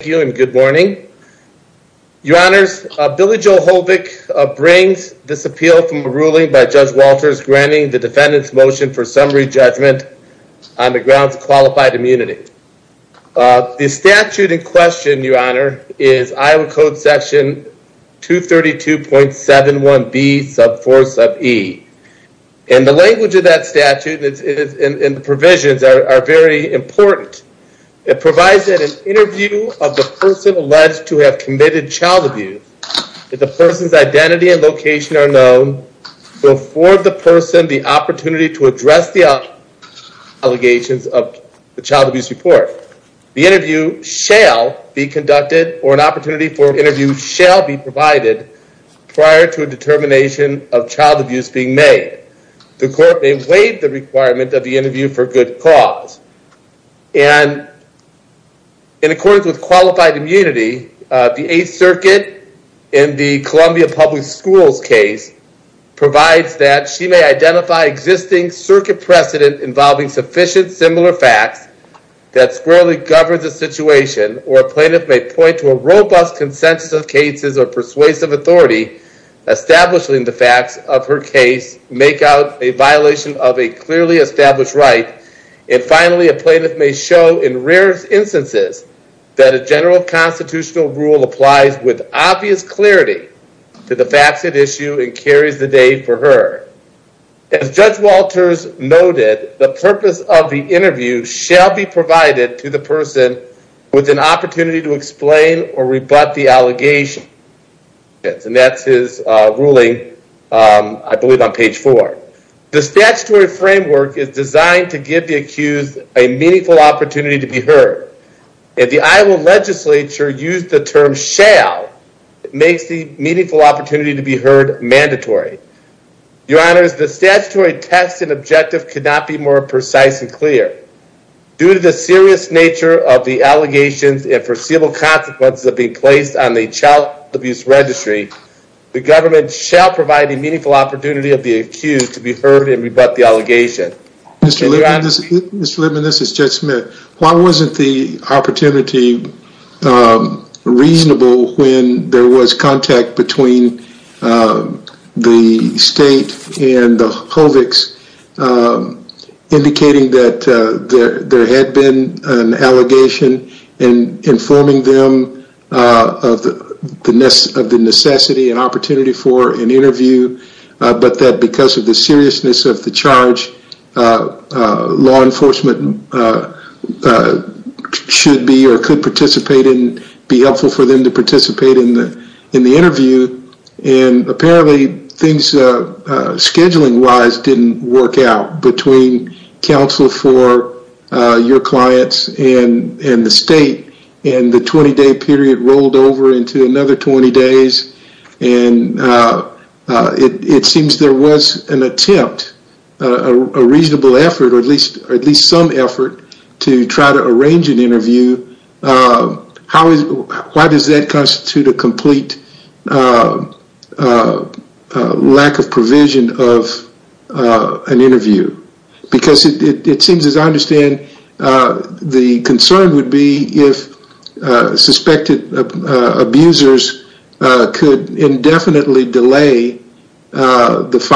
Thank you and good morning. Your honors, Billy Joel Hovick brings this appeal from a ruling by Judge Walters granting the defendant's motion for summary judgment on the grounds of qualified immunity. The statute in question, your honor, is Iowa Code Section 232.71b sub 4 sub e. And the language of that statute and the provisions are very important. It provides that an interview of the person alleged to have committed child abuse, that the person's identity and location are known, will afford the person the opportunity to address the allegations of the child abuse report. The interview shall be conducted or an opportunity for an interview shall be provided prior to a determination of child abuse being made. The court may waive the requirement of the interview for good cause. And in accordance with qualified immunity, the Eighth Circuit in the Columbia Public Schools case provides that she may identify existing circuit precedent involving sufficient similar facts that squarely govern the situation or a plaintiff may point to a robust consensus of cases or persuasive authority establishing the facts of her case make out a violation of a clearly established right and finally a plaintiff may show in rare instances that a general constitutional rule applies with obvious clarity to the facts at issue and carries the day for her. As Judge Walters noted, the purpose of the interview shall be provided to the person with an opportunity to explain or rebut the allegations. And that's his ruling, I believe on page four. The statutory framework is designed to give the accused a meaningful opportunity to be heard. If the Iowa legislature used the term shall, it makes the meaningful opportunity to be heard mandatory. Your honors, the statutory text and objective could not be more precise and clear. Due to the serious nature of the allegations and foreseeable consequences of being placed on the child abuse registry, the government shall provide a meaningful opportunity of the accused to be heard and rebut the allegation. Mr. Lippman, this is Judge Smith. Why wasn't the opportunity reasonable when there was contact between the state and the HOVIX indicating that there had been an allegation and informing them of the necessity and opportunity for an interview, but that because of the seriousness of the charge, law enforcement should be or could participate and be helpful for them to participate in the interview. And apparently things scheduling wise didn't work out between counsel for your clients and the state and the 20 day period rolled over into another 20 days. And it seems there was an attempt, a reasonable effort, or at least some effort to try to arrange an interview. Why does that constitute a complete lack of provision of an interview? Because it seems as I understand, the concern would be if suspected abusers could indefinitely delay the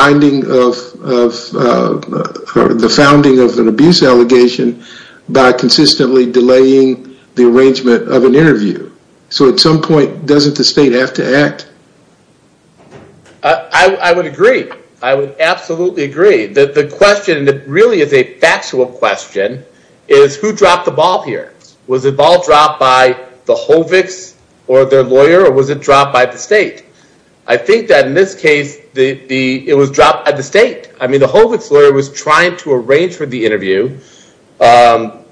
founding of an abuse allegation by consistently delaying the arrangement of an interview. So at some point, doesn't the state have to act? I would agree. I would absolutely agree that the question really is a factual question is who dropped the ball here? Was the ball dropped by the HOVIX or their lawyer or was it dropped by the state? I think that in this case, it was dropped by the state. I mean, the HOVIX lawyer was trying to arrange for the interview. They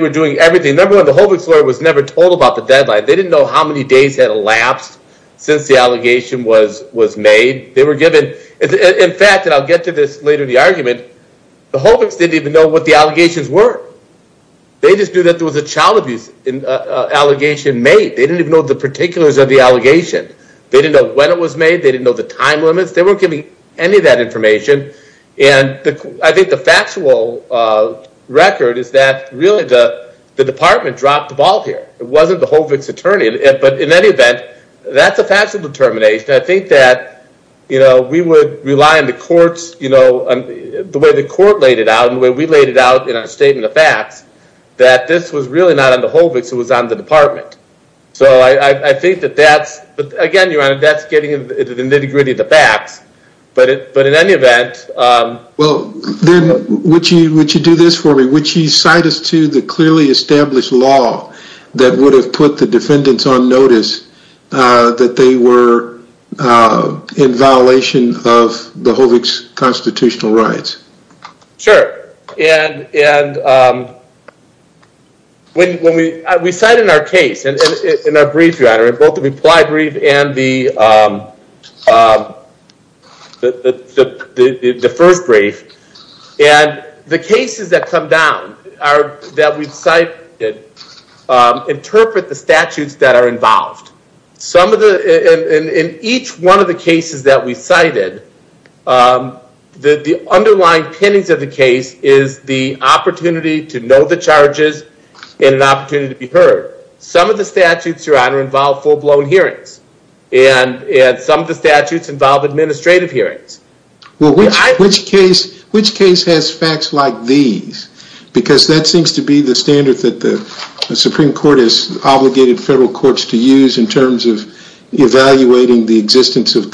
were doing everything. Number one, the HOVIX lawyer was never told about the deadline. They didn't know how many days had elapsed since the allegation was made. In fact, and I'll get to this later in the argument, the HOVIX didn't even know what the allegations were. They just knew that there was a child abuse allegation made. They didn't even know the particulars of the allegation. They didn't know when it was made. They didn't know the time limits. They weren't giving any of that information. And I think the factual record is that really the department dropped the ball here. It wasn't the HOVIX attorney. But in any event, that's a factual determination. I think that we would rely on the courts, the way the court laid it out and the way we laid it out in our statement of facts, that this was really not on the HOVIX, it was on the department. So I think that that's, but again, Your Honor, that's getting into the nitty gritty of the facts. But in any event- Well, then would you do this for me? Would you cite us the clearly established law that would have put the defendants on notice that they were in violation of the HOVIX constitutional rights? Sure. And we cite in our case, in our brief, both the reply brief and the first brief. And the cases that come down that we've cited interpret the statutes that are involved. In each one of the cases that we cited, the underlying pinnings of the case is the opportunity to know the charges and an opportunity to be heard. Some of the statutes, Your Honor, involve full-blown hearings and some of the statutes involve administrative hearings. Well, which case has facts like these? Because that seems to be the standard that the Supreme Court has obligated federal courts to use in terms of evaluating the existence of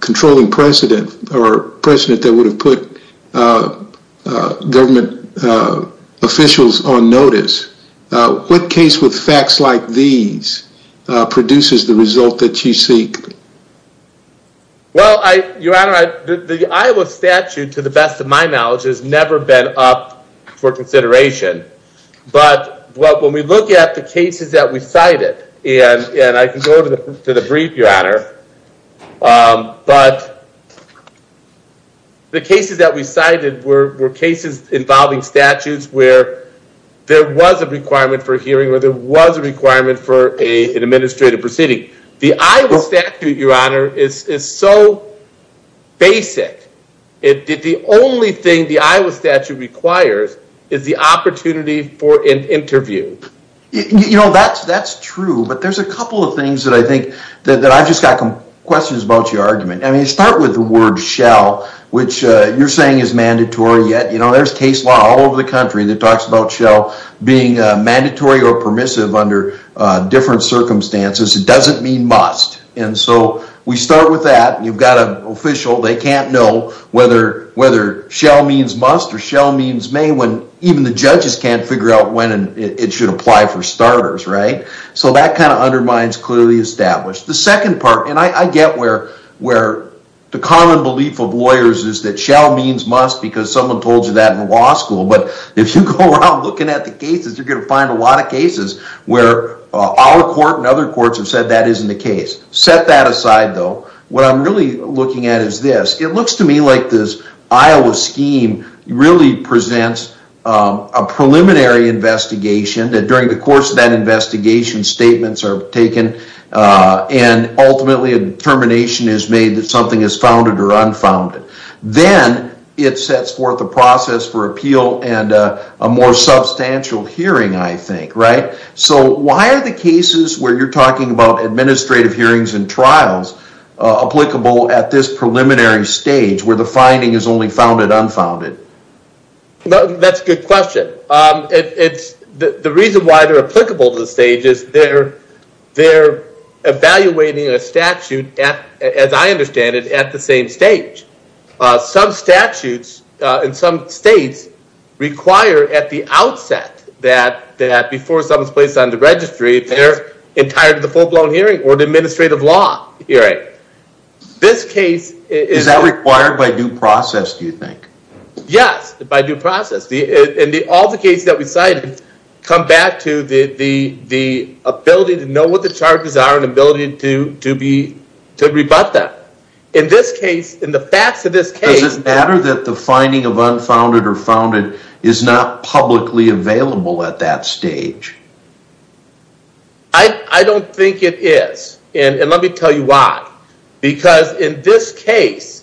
controlling precedent or precedent that would have put government officials on notice. What case with facts like these produces the result that you seek? Well, Your Honor, the Iowa statute, to the best of my knowledge, has never been up for consideration. But when we look at the cases that we cited, and I can go to the brief, Your Honor, but the cases that we cited were cases involving statutes where there was a requirement for hearing or there was a requirement for an administrative proceeding. The Iowa statute, Your Honor, is so basic. The only thing the Iowa statute requires is the opportunity for an administrative proceeding. I've just got some questions about your argument. I mean, you start with the word shall, which you're saying is mandatory. Yet, you know, there's case law all over the country that talks about shall being mandatory or permissive under different circumstances. It doesn't mean must. And so we start with that. You've got an official. They can't know whether shall means must or shall means may when even the judges can't figure out when it should apply for starters, right? So that kind of undermines clearly established. The second part, and I get where the common belief of lawyers is that shall means must because someone told you that in law school. But if you go around looking at the cases, you're going to find a lot of cases where our court and other courts have said that isn't the case. Set that aside, though. What I'm really looking at is this. It looks to me like this Iowa scheme really presents a preliminary investigation that during the course of that investigation, statements are taken and ultimately a determination is made that something is founded or unfounded. Then it sets forth a process for appeal and a more substantial hearing, I think, right? So why are the cases where you're talking about administrative hearings and trials applicable at this preliminary stage where the finding is only founded, unfounded? No, that's a good question. The reason why they're applicable to the stage is they're evaluating a statute, as I understand it, at the same stage. Some statutes in some states require at the outset that before someone's placed on the registry, they're entitled to the full-blown hearing or the administrative law hearing. This case- Is that required by due process, do you think? Yes, by due process. All the cases that we cited come back to the ability to know what the charges are and the ability to rebut them. In this case, in the facts of this case- Does it matter that the finding of unfounded or founded is not publicly available at that stage? I don't think it is, and let me tell you why. Because in this case,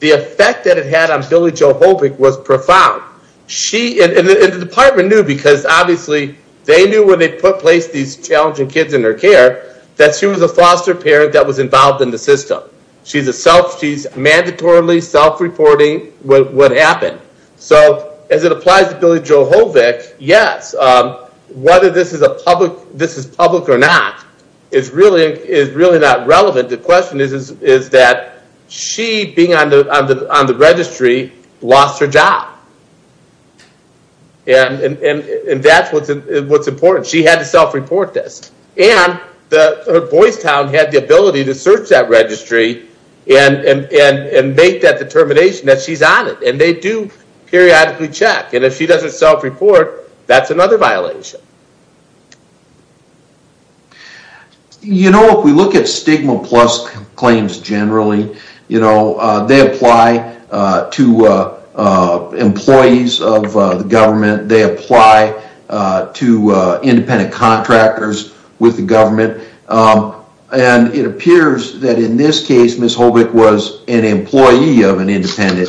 the effect that it had on Billie Jo Hovic was profound. She, and the department knew, because obviously they knew when they put in place these challenging kids in their care, that she was a foster parent that was involved in the system. She's mandatorily self-reporting what happened. So as it applies to Billie Jo Hovic, yes. Whether this is public or not is really not relevant. The question is that she, being on the registry, lost her job. And that's what's important. She had to self-report this. And Boys Town had the ability to search that registry and make that self-report. That's another violation. You know, if we look at stigma plus claims generally, they apply to employees of the government. They apply to independent contractors with the government. And it appears that in this case, Miss Hovic was an employee of an independent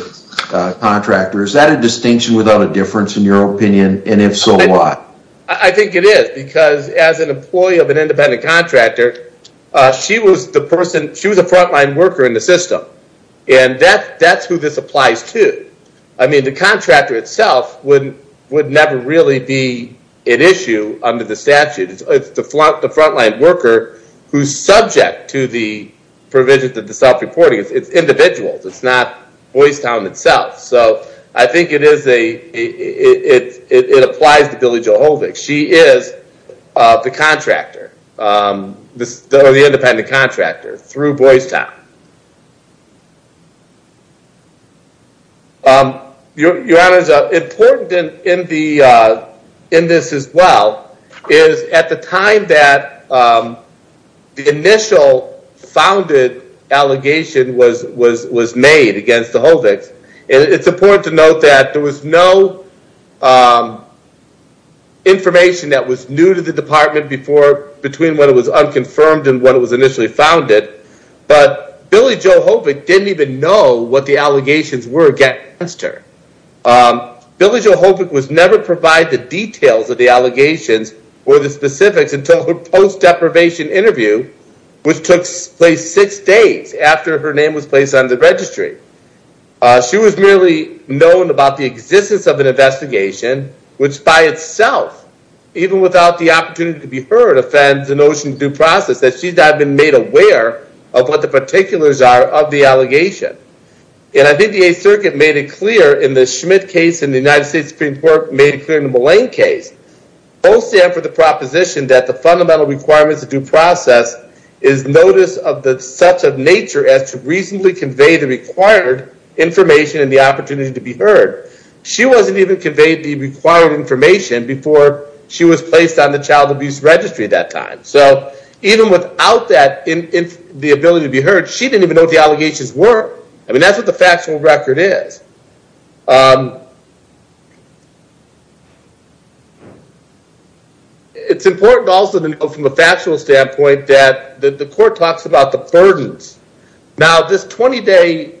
contractor. And if so, why? I think it is, because as an employee of an independent contractor, she was a frontline worker in the system. And that's who this applies to. I mean, the contractor itself would never really be an issue under the statute. It's the frontline worker who's subject to the provisions of the self-reporting. It's individuals. It's not it applies to Billie Jo Hovic. She is the contractor, or the independent contractor, through Boys Town. Your Honor, it's important in this as well, is at the time that the initial founded allegation was made against the Hovic's, it's important to note that there was no information that was new to the department between when it was unconfirmed and when it was initially founded. But Billie Jo Hovic didn't even know what the allegations were against her. Billie Jo Hovic was never provided the details of the allegations or the specifics until her post-deprivation interview, which took place six days after her name was placed on the registry. She was merely known about the existence of an investigation, which by itself, even without the opportunity to be heard, offends the notion of due process, that she's not been made aware of what the particulars are of the allegation. And I think the Eighth Circuit made it clear in the Schmidt case in the United States Supreme Court, made it clear in the Mullane case, mostly after the proposition that the fundamental requirements of due process is notice of such a nature as to reasonably convey the required information and the opportunity to be heard. She wasn't even conveyed the required information before she was placed on the child abuse registry at that time. So even without the ability to be heard, she didn't even know what the allegations were. I mean, that's what the factual record is. It's important also to know from a factual standpoint that the court talks about the burdens. Now this 20-day,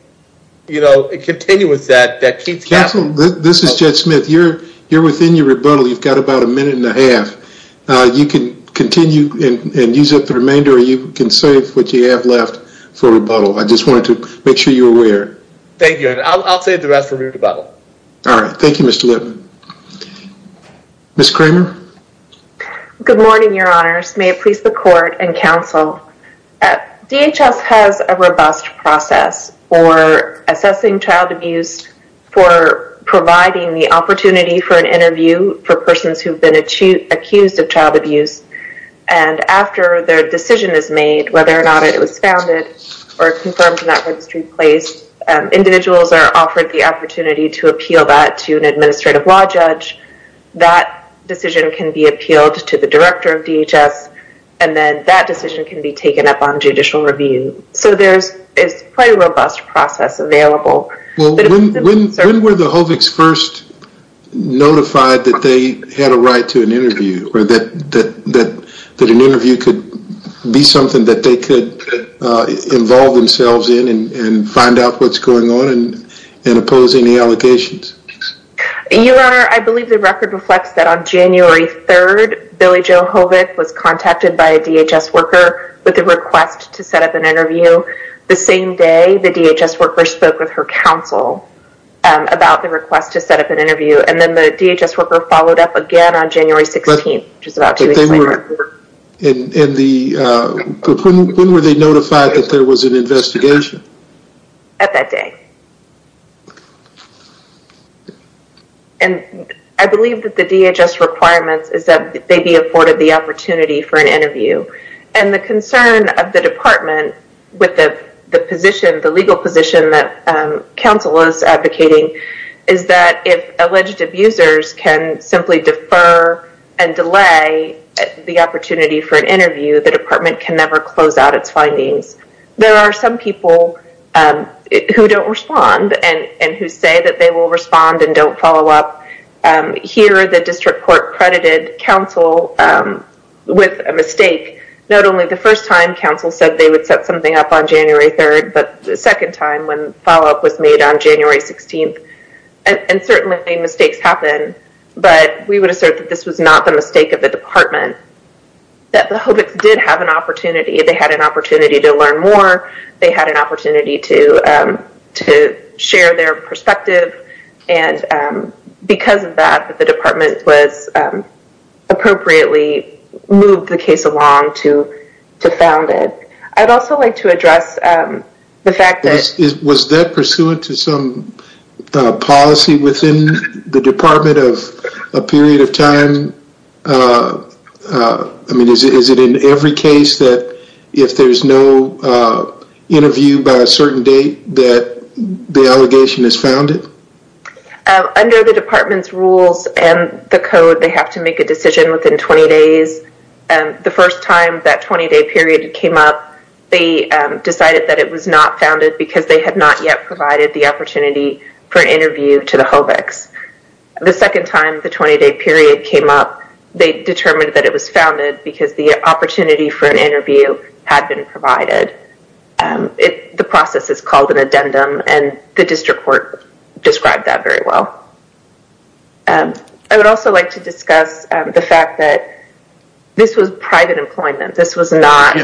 you know, it continues that that keeps happening. This is Jed Smith. You're within your rebuttal. You've got about a minute and a half. You can continue and use up the remainder or you can save what you have left for rebuttal. I just wanted to make sure you're aware. Thank you. I'll save the rest for rebuttal. All right. Thank you, Mr. Whitman. Ms. Kramer. Good morning, your honors. May it please the court and counsel. DHS has a robust process for assessing child abuse for providing the opportunity for an interview for persons who've been accused of child abuse and after their decision is made, whether or not it was founded or confirmed in individuals are offered the opportunity to appeal that to an administrative law judge, that decision can be appealed to the director of DHS and then that decision can be taken up on judicial review. So there's quite a robust process available. When were the Hovix first notified that they had a right to an interview or that going on and opposing the allocations? Your honor, I believe the record reflects that on January 3rd, Billy Joe Hovix was contacted by a DHS worker with a request to set up an interview. The same day, the DHS worker spoke with her counsel about the request to set up an interview and then the DHS worker followed up again on January 16th, which is about two weeks later. When were they notified that there was an investigation? At that day. And I believe that the DHS requirements is that they be afforded the opportunity for an interview and the concern of the department with the position, the legal position that counsel is advocating is that if alleged abusers can simply defer and delay the opportunity for an interview, the department can never close out its findings. There are some people who don't respond and who say that they will respond and don't follow up. Here, the district court credited counsel with a mistake. Not only the first time counsel said they would set something up on January 3rd, but the second time when follow-up was made on January 16th. And certainly mistakes happen, but we would assert that this was not the mistake of the department, that the Hobicks did have an opportunity. They had an opportunity to learn more. They had an opportunity to share their perspective. And because of that, the department was appropriately moved the case along to found it. I'd also like to address the fact that- a period of time. I mean, is it in every case that if there's no interview by a certain date, that the allegation is founded? Under the department's rules and the code, they have to make a decision within 20 days. The first time that 20-day period came up, they decided that it was not founded because they had not yet provided the opportunity for an interview to the Hobicks. The second time the 20-day period came up, they determined that it was founded because the opportunity for an interview had been provided. The process is called an addendum, and the district court described that very well. I would also like to discuss the fact that this was private employment. This was not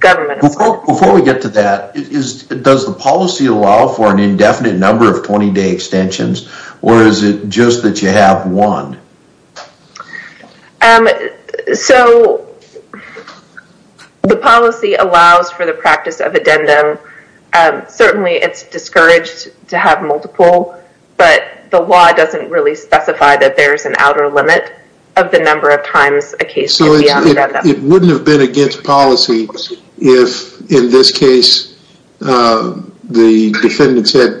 government. Before we get to that, does the policy allow for an indefinite number of 20-day extensions, or is it just that you have one? The policy allows for the practice of addendum. Certainly, it's discouraged to have multiple, but the law doesn't really specify that there's an outer limit of the number of times a case- It wouldn't have been against policy if, in this case, the defendants had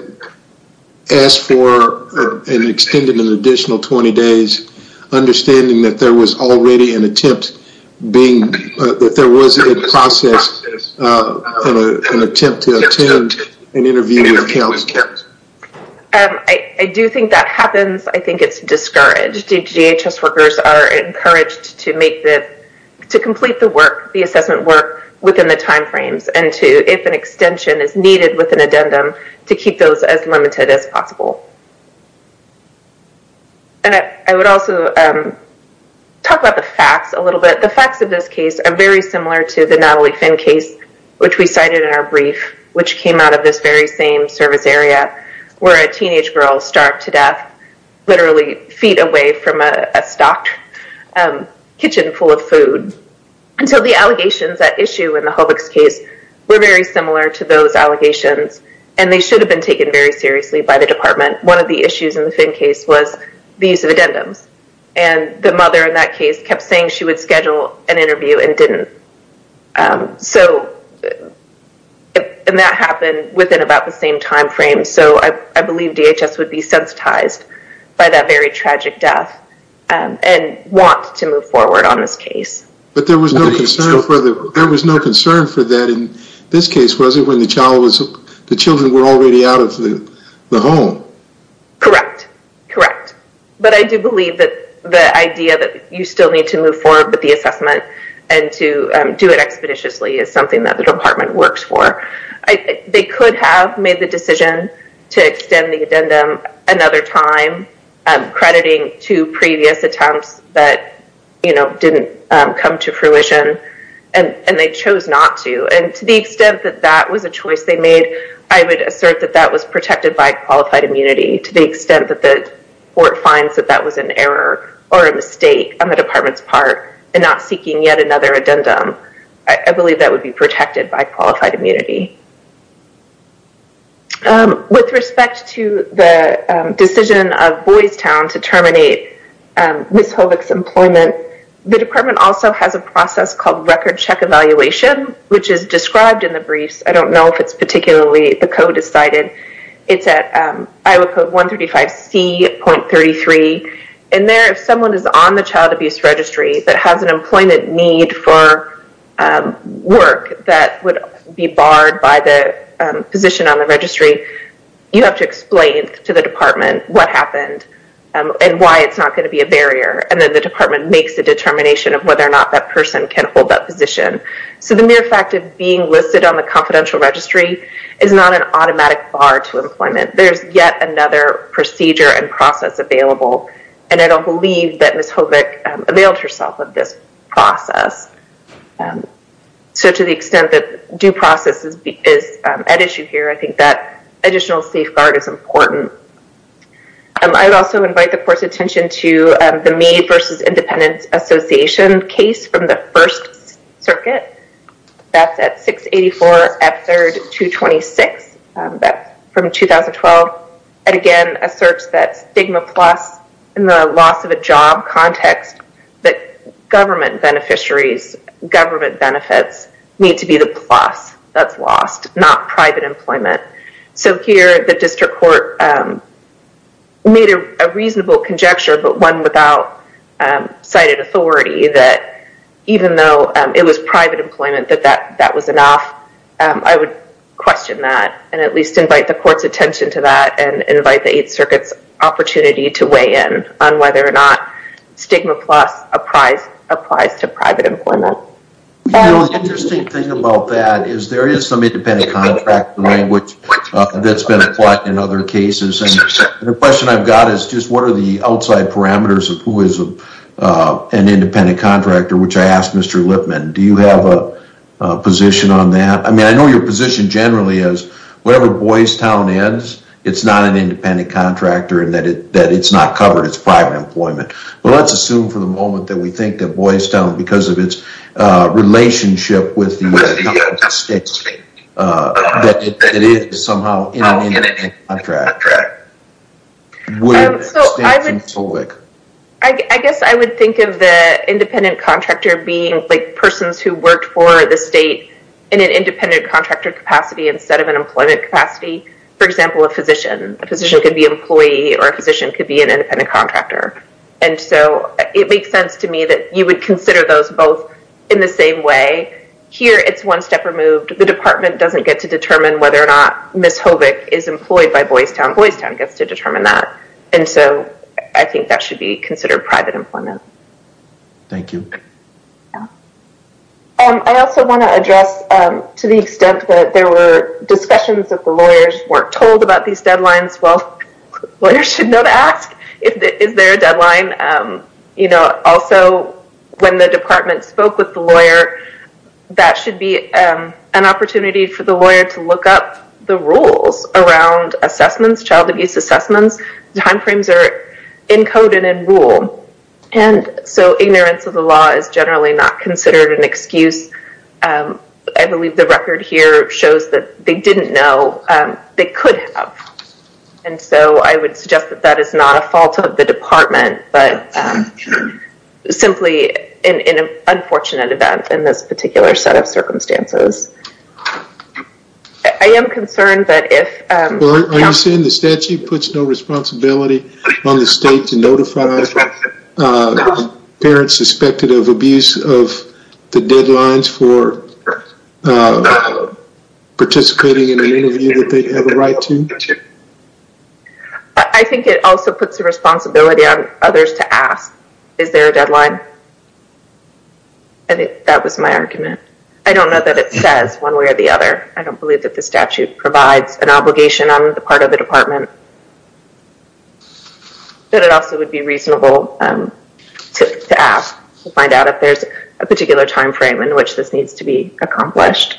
asked for an extended, an additional 20 days, understanding that there was already an attempt being... That there was a process, an attempt to attend an interview. I do think that happens. I think it's discouraged. DHS workers are encouraged to complete the assessment work within the time frames and to, if an extension is needed with an addendum, to keep those as limited as possible. I would also talk about the facts a little bit. The facts of this case are very similar to the Natalie Finn case, which we cited in our brief, which came out of this very same service area, where a teenage girl starved to death, literally feet away from a stocked kitchen full of food. The allegations at issue in the Hobux case were very similar to those allegations, and they should have been taken very seriously by the department. One of the issues in the Finn case was the use of addendums. The mother in that case kept saying she would schedule an interview and didn't. That happened within about the same time frame, so I believe DHS would be sensitized by that very tragic death and want to move forward on this case. But there was no concern for that in this case, was there, when the child was... The children were already out of the home? Correct. Correct. But I do believe that the need to move forward with the assessment and to do it expeditiously is something that the department works for. They could have made the decision to extend the addendum another time, crediting two previous attempts that didn't come to fruition, and they chose not to. To the extent that that was a choice they made, I would assert that that was protected by qualified immunity, to the extent that the court finds that that was an error or a mistake on the department's part in not seeking yet another addendum. I believe that would be protected by qualified immunity. With respect to the decision of Boys Town to terminate Ms. Hovick's employment, the department also has a process called record check evaluation, which is described in the briefs. I don't know if particularly the code is cited. It's at Iowa Code 135C.33. There, if someone is on the child abuse registry that has an employment need for work that would be barred by the position on the registry, you have to explain to the department what happened and why it's not going to be a barrier. Then the department makes a determination of whether or not that person can hold that is not an automatic bar to employment. There's yet another procedure and process available, and I don't believe that Ms. Hovick availed herself of this process. To the extent that due process is at issue here, I think that additional safeguard is important. I would also invite the court's attention to the May versus Independence Association case from the First Circuit. That's at 684 F3rd 226. That's from 2012. Again, asserts that stigma plus in the loss of a job context that government beneficiaries, government benefits need to be the plus that's lost, not private employment. Here, the district court made a reasonable conjecture, but one without cited authority, that even though it was private employment, that that was enough. I would question that and at least invite the court's attention to that and invite the Eighth Circuit's opportunity to weigh in on whether or not stigma plus applies to private employment. The interesting thing about that is there is independent contractor language that's been applied in other cases. The question I've got is just what are the outside parameters of who is an independent contractor, which I asked Mr. Lipman. Do you have a position on that? I mean, I know your position generally is whatever Boys Town is, it's not an independent contractor and that it's not covered. It's private employment, but let's assume for the moment that we think that Boys Town, because of its relationship with that it is somehow an independent contractor. I guess I would think of the independent contractor being like persons who worked for the state in an independent contractor capacity instead of an employment capacity. For example, a physician. A physician could be an employee or a physician could be an independent contractor. It makes sense to me that you would consider those both in the same way. Here it's one step removed. The department doesn't get to determine whether or not Ms. Hovic is employed by Boys Town. Boys Town gets to determine that. I think that should be considered private employment. Thank you. I also want to address to the extent that there were discussions that the lawyers weren't told about these deadlines. Well, lawyers should know to ask is there a deadline? Also, when the department spoke with the lawyer, that should be an opportunity for the lawyer to look up the rules around assessments, child abuse assessments. Timeframes are encoded in rule. Ignorance of the law is generally not considered an excuse. I believe the record here shows that they didn't know they could have. And so I would suggest that that is not a fault of the department, but simply an unfortunate event in this particular set of circumstances. I am concerned that if- Are you saying the statute puts no responsibility on the state to notify parents suspected of abuse of the deadlines for participating in an interview that they have a right to? I think it also puts a responsibility on others to ask, is there a deadline? That was my argument. I don't know that it says one way or the other. I don't believe that the statute provides an obligation on the part of the department. But it also would be reasonable to ask to find out if there's a particular timeframe in which this needs to be accomplished.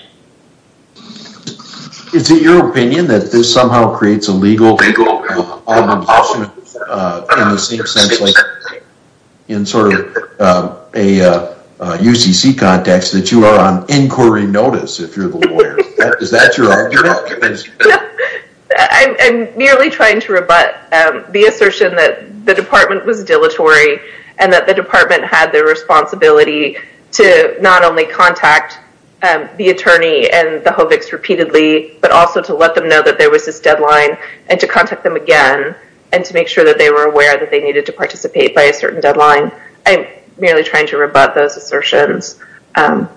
Is it your opinion that this somehow creates a legal obligation in the same sense like in sort of a UCC context that you are on inquiry notice if you're the lawyer? Is that your argument? I'm merely trying to rebut the assertion that the department was dilatory and that the department had the responsibility to not only contact the attorney and the HOVIX repeatedly, but also to let them know that there was this deadline and to contact them again and to make sure that they were aware that they needed to participate by a certain deadline. I'm merely trying to rebut those assertions. I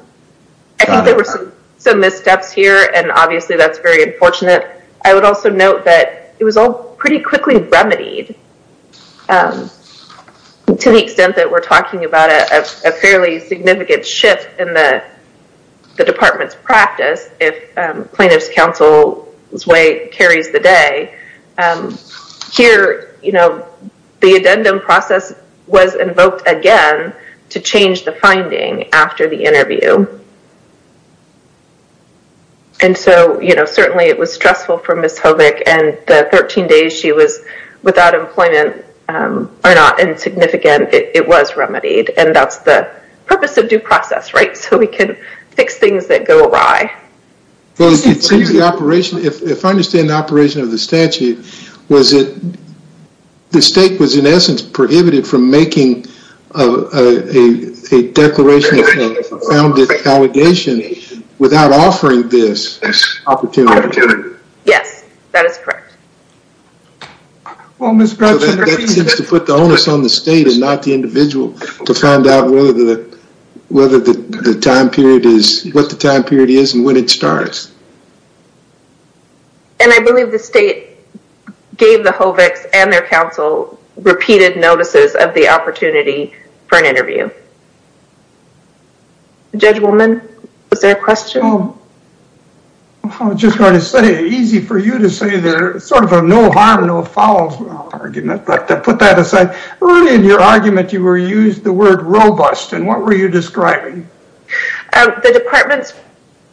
think there were some missteps here and obviously that's very unfortunate. I would also note that it was all pretty quickly remedied to the extent that we're talking about a fairly significant shift in the department's practice if plaintiff's counsel's way carries the day. Here the addendum process was invoked again to change the finding after the interview. And so certainly it was stressful for Ms. HOVIX and the 13 days she was without employment are not insignificant. It was remedied and that's the purpose of due process, right? So we can fix things that go awry. It seems the operation, if I understand the operation of the statute, was it the state was in essence prohibited from making a declaration of a founded allegation without offering this opportunity? Yes, that is correct. Well, Ms. Bradford, that seems to put the onus on the state and not the individual to find out whether the time period is what the time period is and when it starts. And I believe the state gave the HOVIX and their counsel repeated notices of the opportunity for an interview. Judge Woolman, was there a question? I was just going to say easy for you to say there's sort of a no harm, no foul argument, but to put that aside, early in your argument you were used the word robust and what were you describing? The department's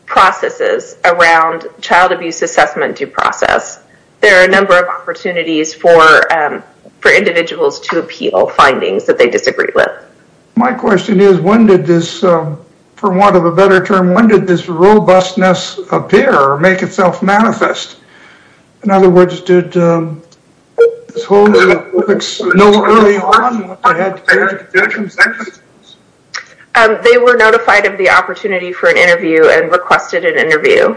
processes around child abuse assessment due process, there are a to appeal findings that they disagree with. My question is when did this, for want of a better term, when did this robustness appear or make itself manifest? In other words, did this HOVIX know early on what they had to say? They were notified of the opportunity for an interview and requested an interview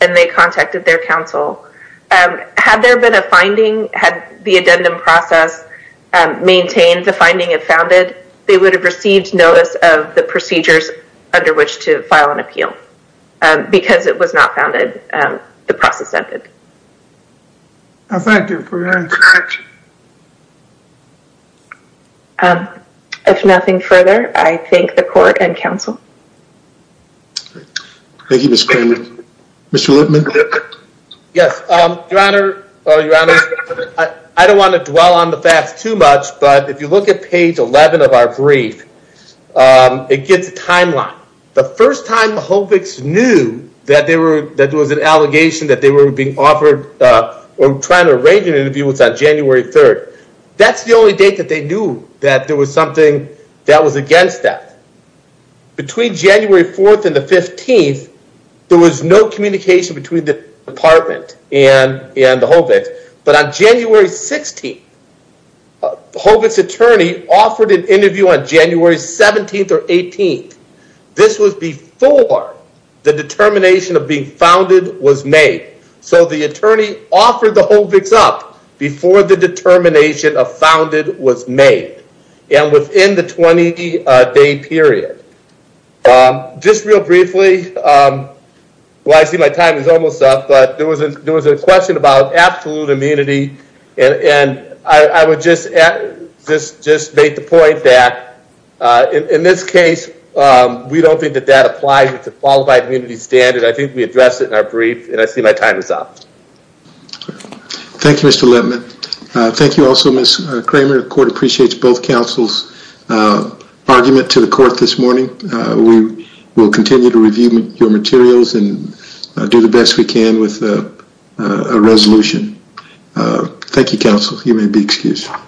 and they contacted their counsel. Had there been a finding, had the addendum process maintained the finding it founded, they would have received notice of the procedures under which to file an appeal. Because it was not founded, the process ended. I thank you for your introduction. If nothing further, I thank the court and counsel. Thank you, Mr. Kramer. Mr. Lippman. Yes, your honor, I don't want to dwell on the facts too much, but if you look at page 11 of our brief, it gives a timeline. The first time HOVIX knew that there was an allegation that they were being offered or trying to arrange an interview was on January 3rd. That's the only date that they knew that there was something that was against that. Between January 4th and the 15th, there was no communication between the department and the HOVIX. But on January 16th, HOVIX attorney offered an interview on January 17th or 18th. This was before the determination of being founded was made. So the attorney offered the HOVIX up before the determination of founded was made and within the 20 day period. Just real briefly, well, I see my time is almost up, but there was a question about absolute immunity. And I would just make the point that in this case, we don't think that that applies to qualified immunity standard. I think we addressed it in our brief and I see my time is up. Thank you, Mr. Lippman. Thank you also, Kramer. The court appreciates both counsel's argument to the court this morning. We will continue to review your materials and do the best we can with a resolution. Thank you, counsel. You may be excused.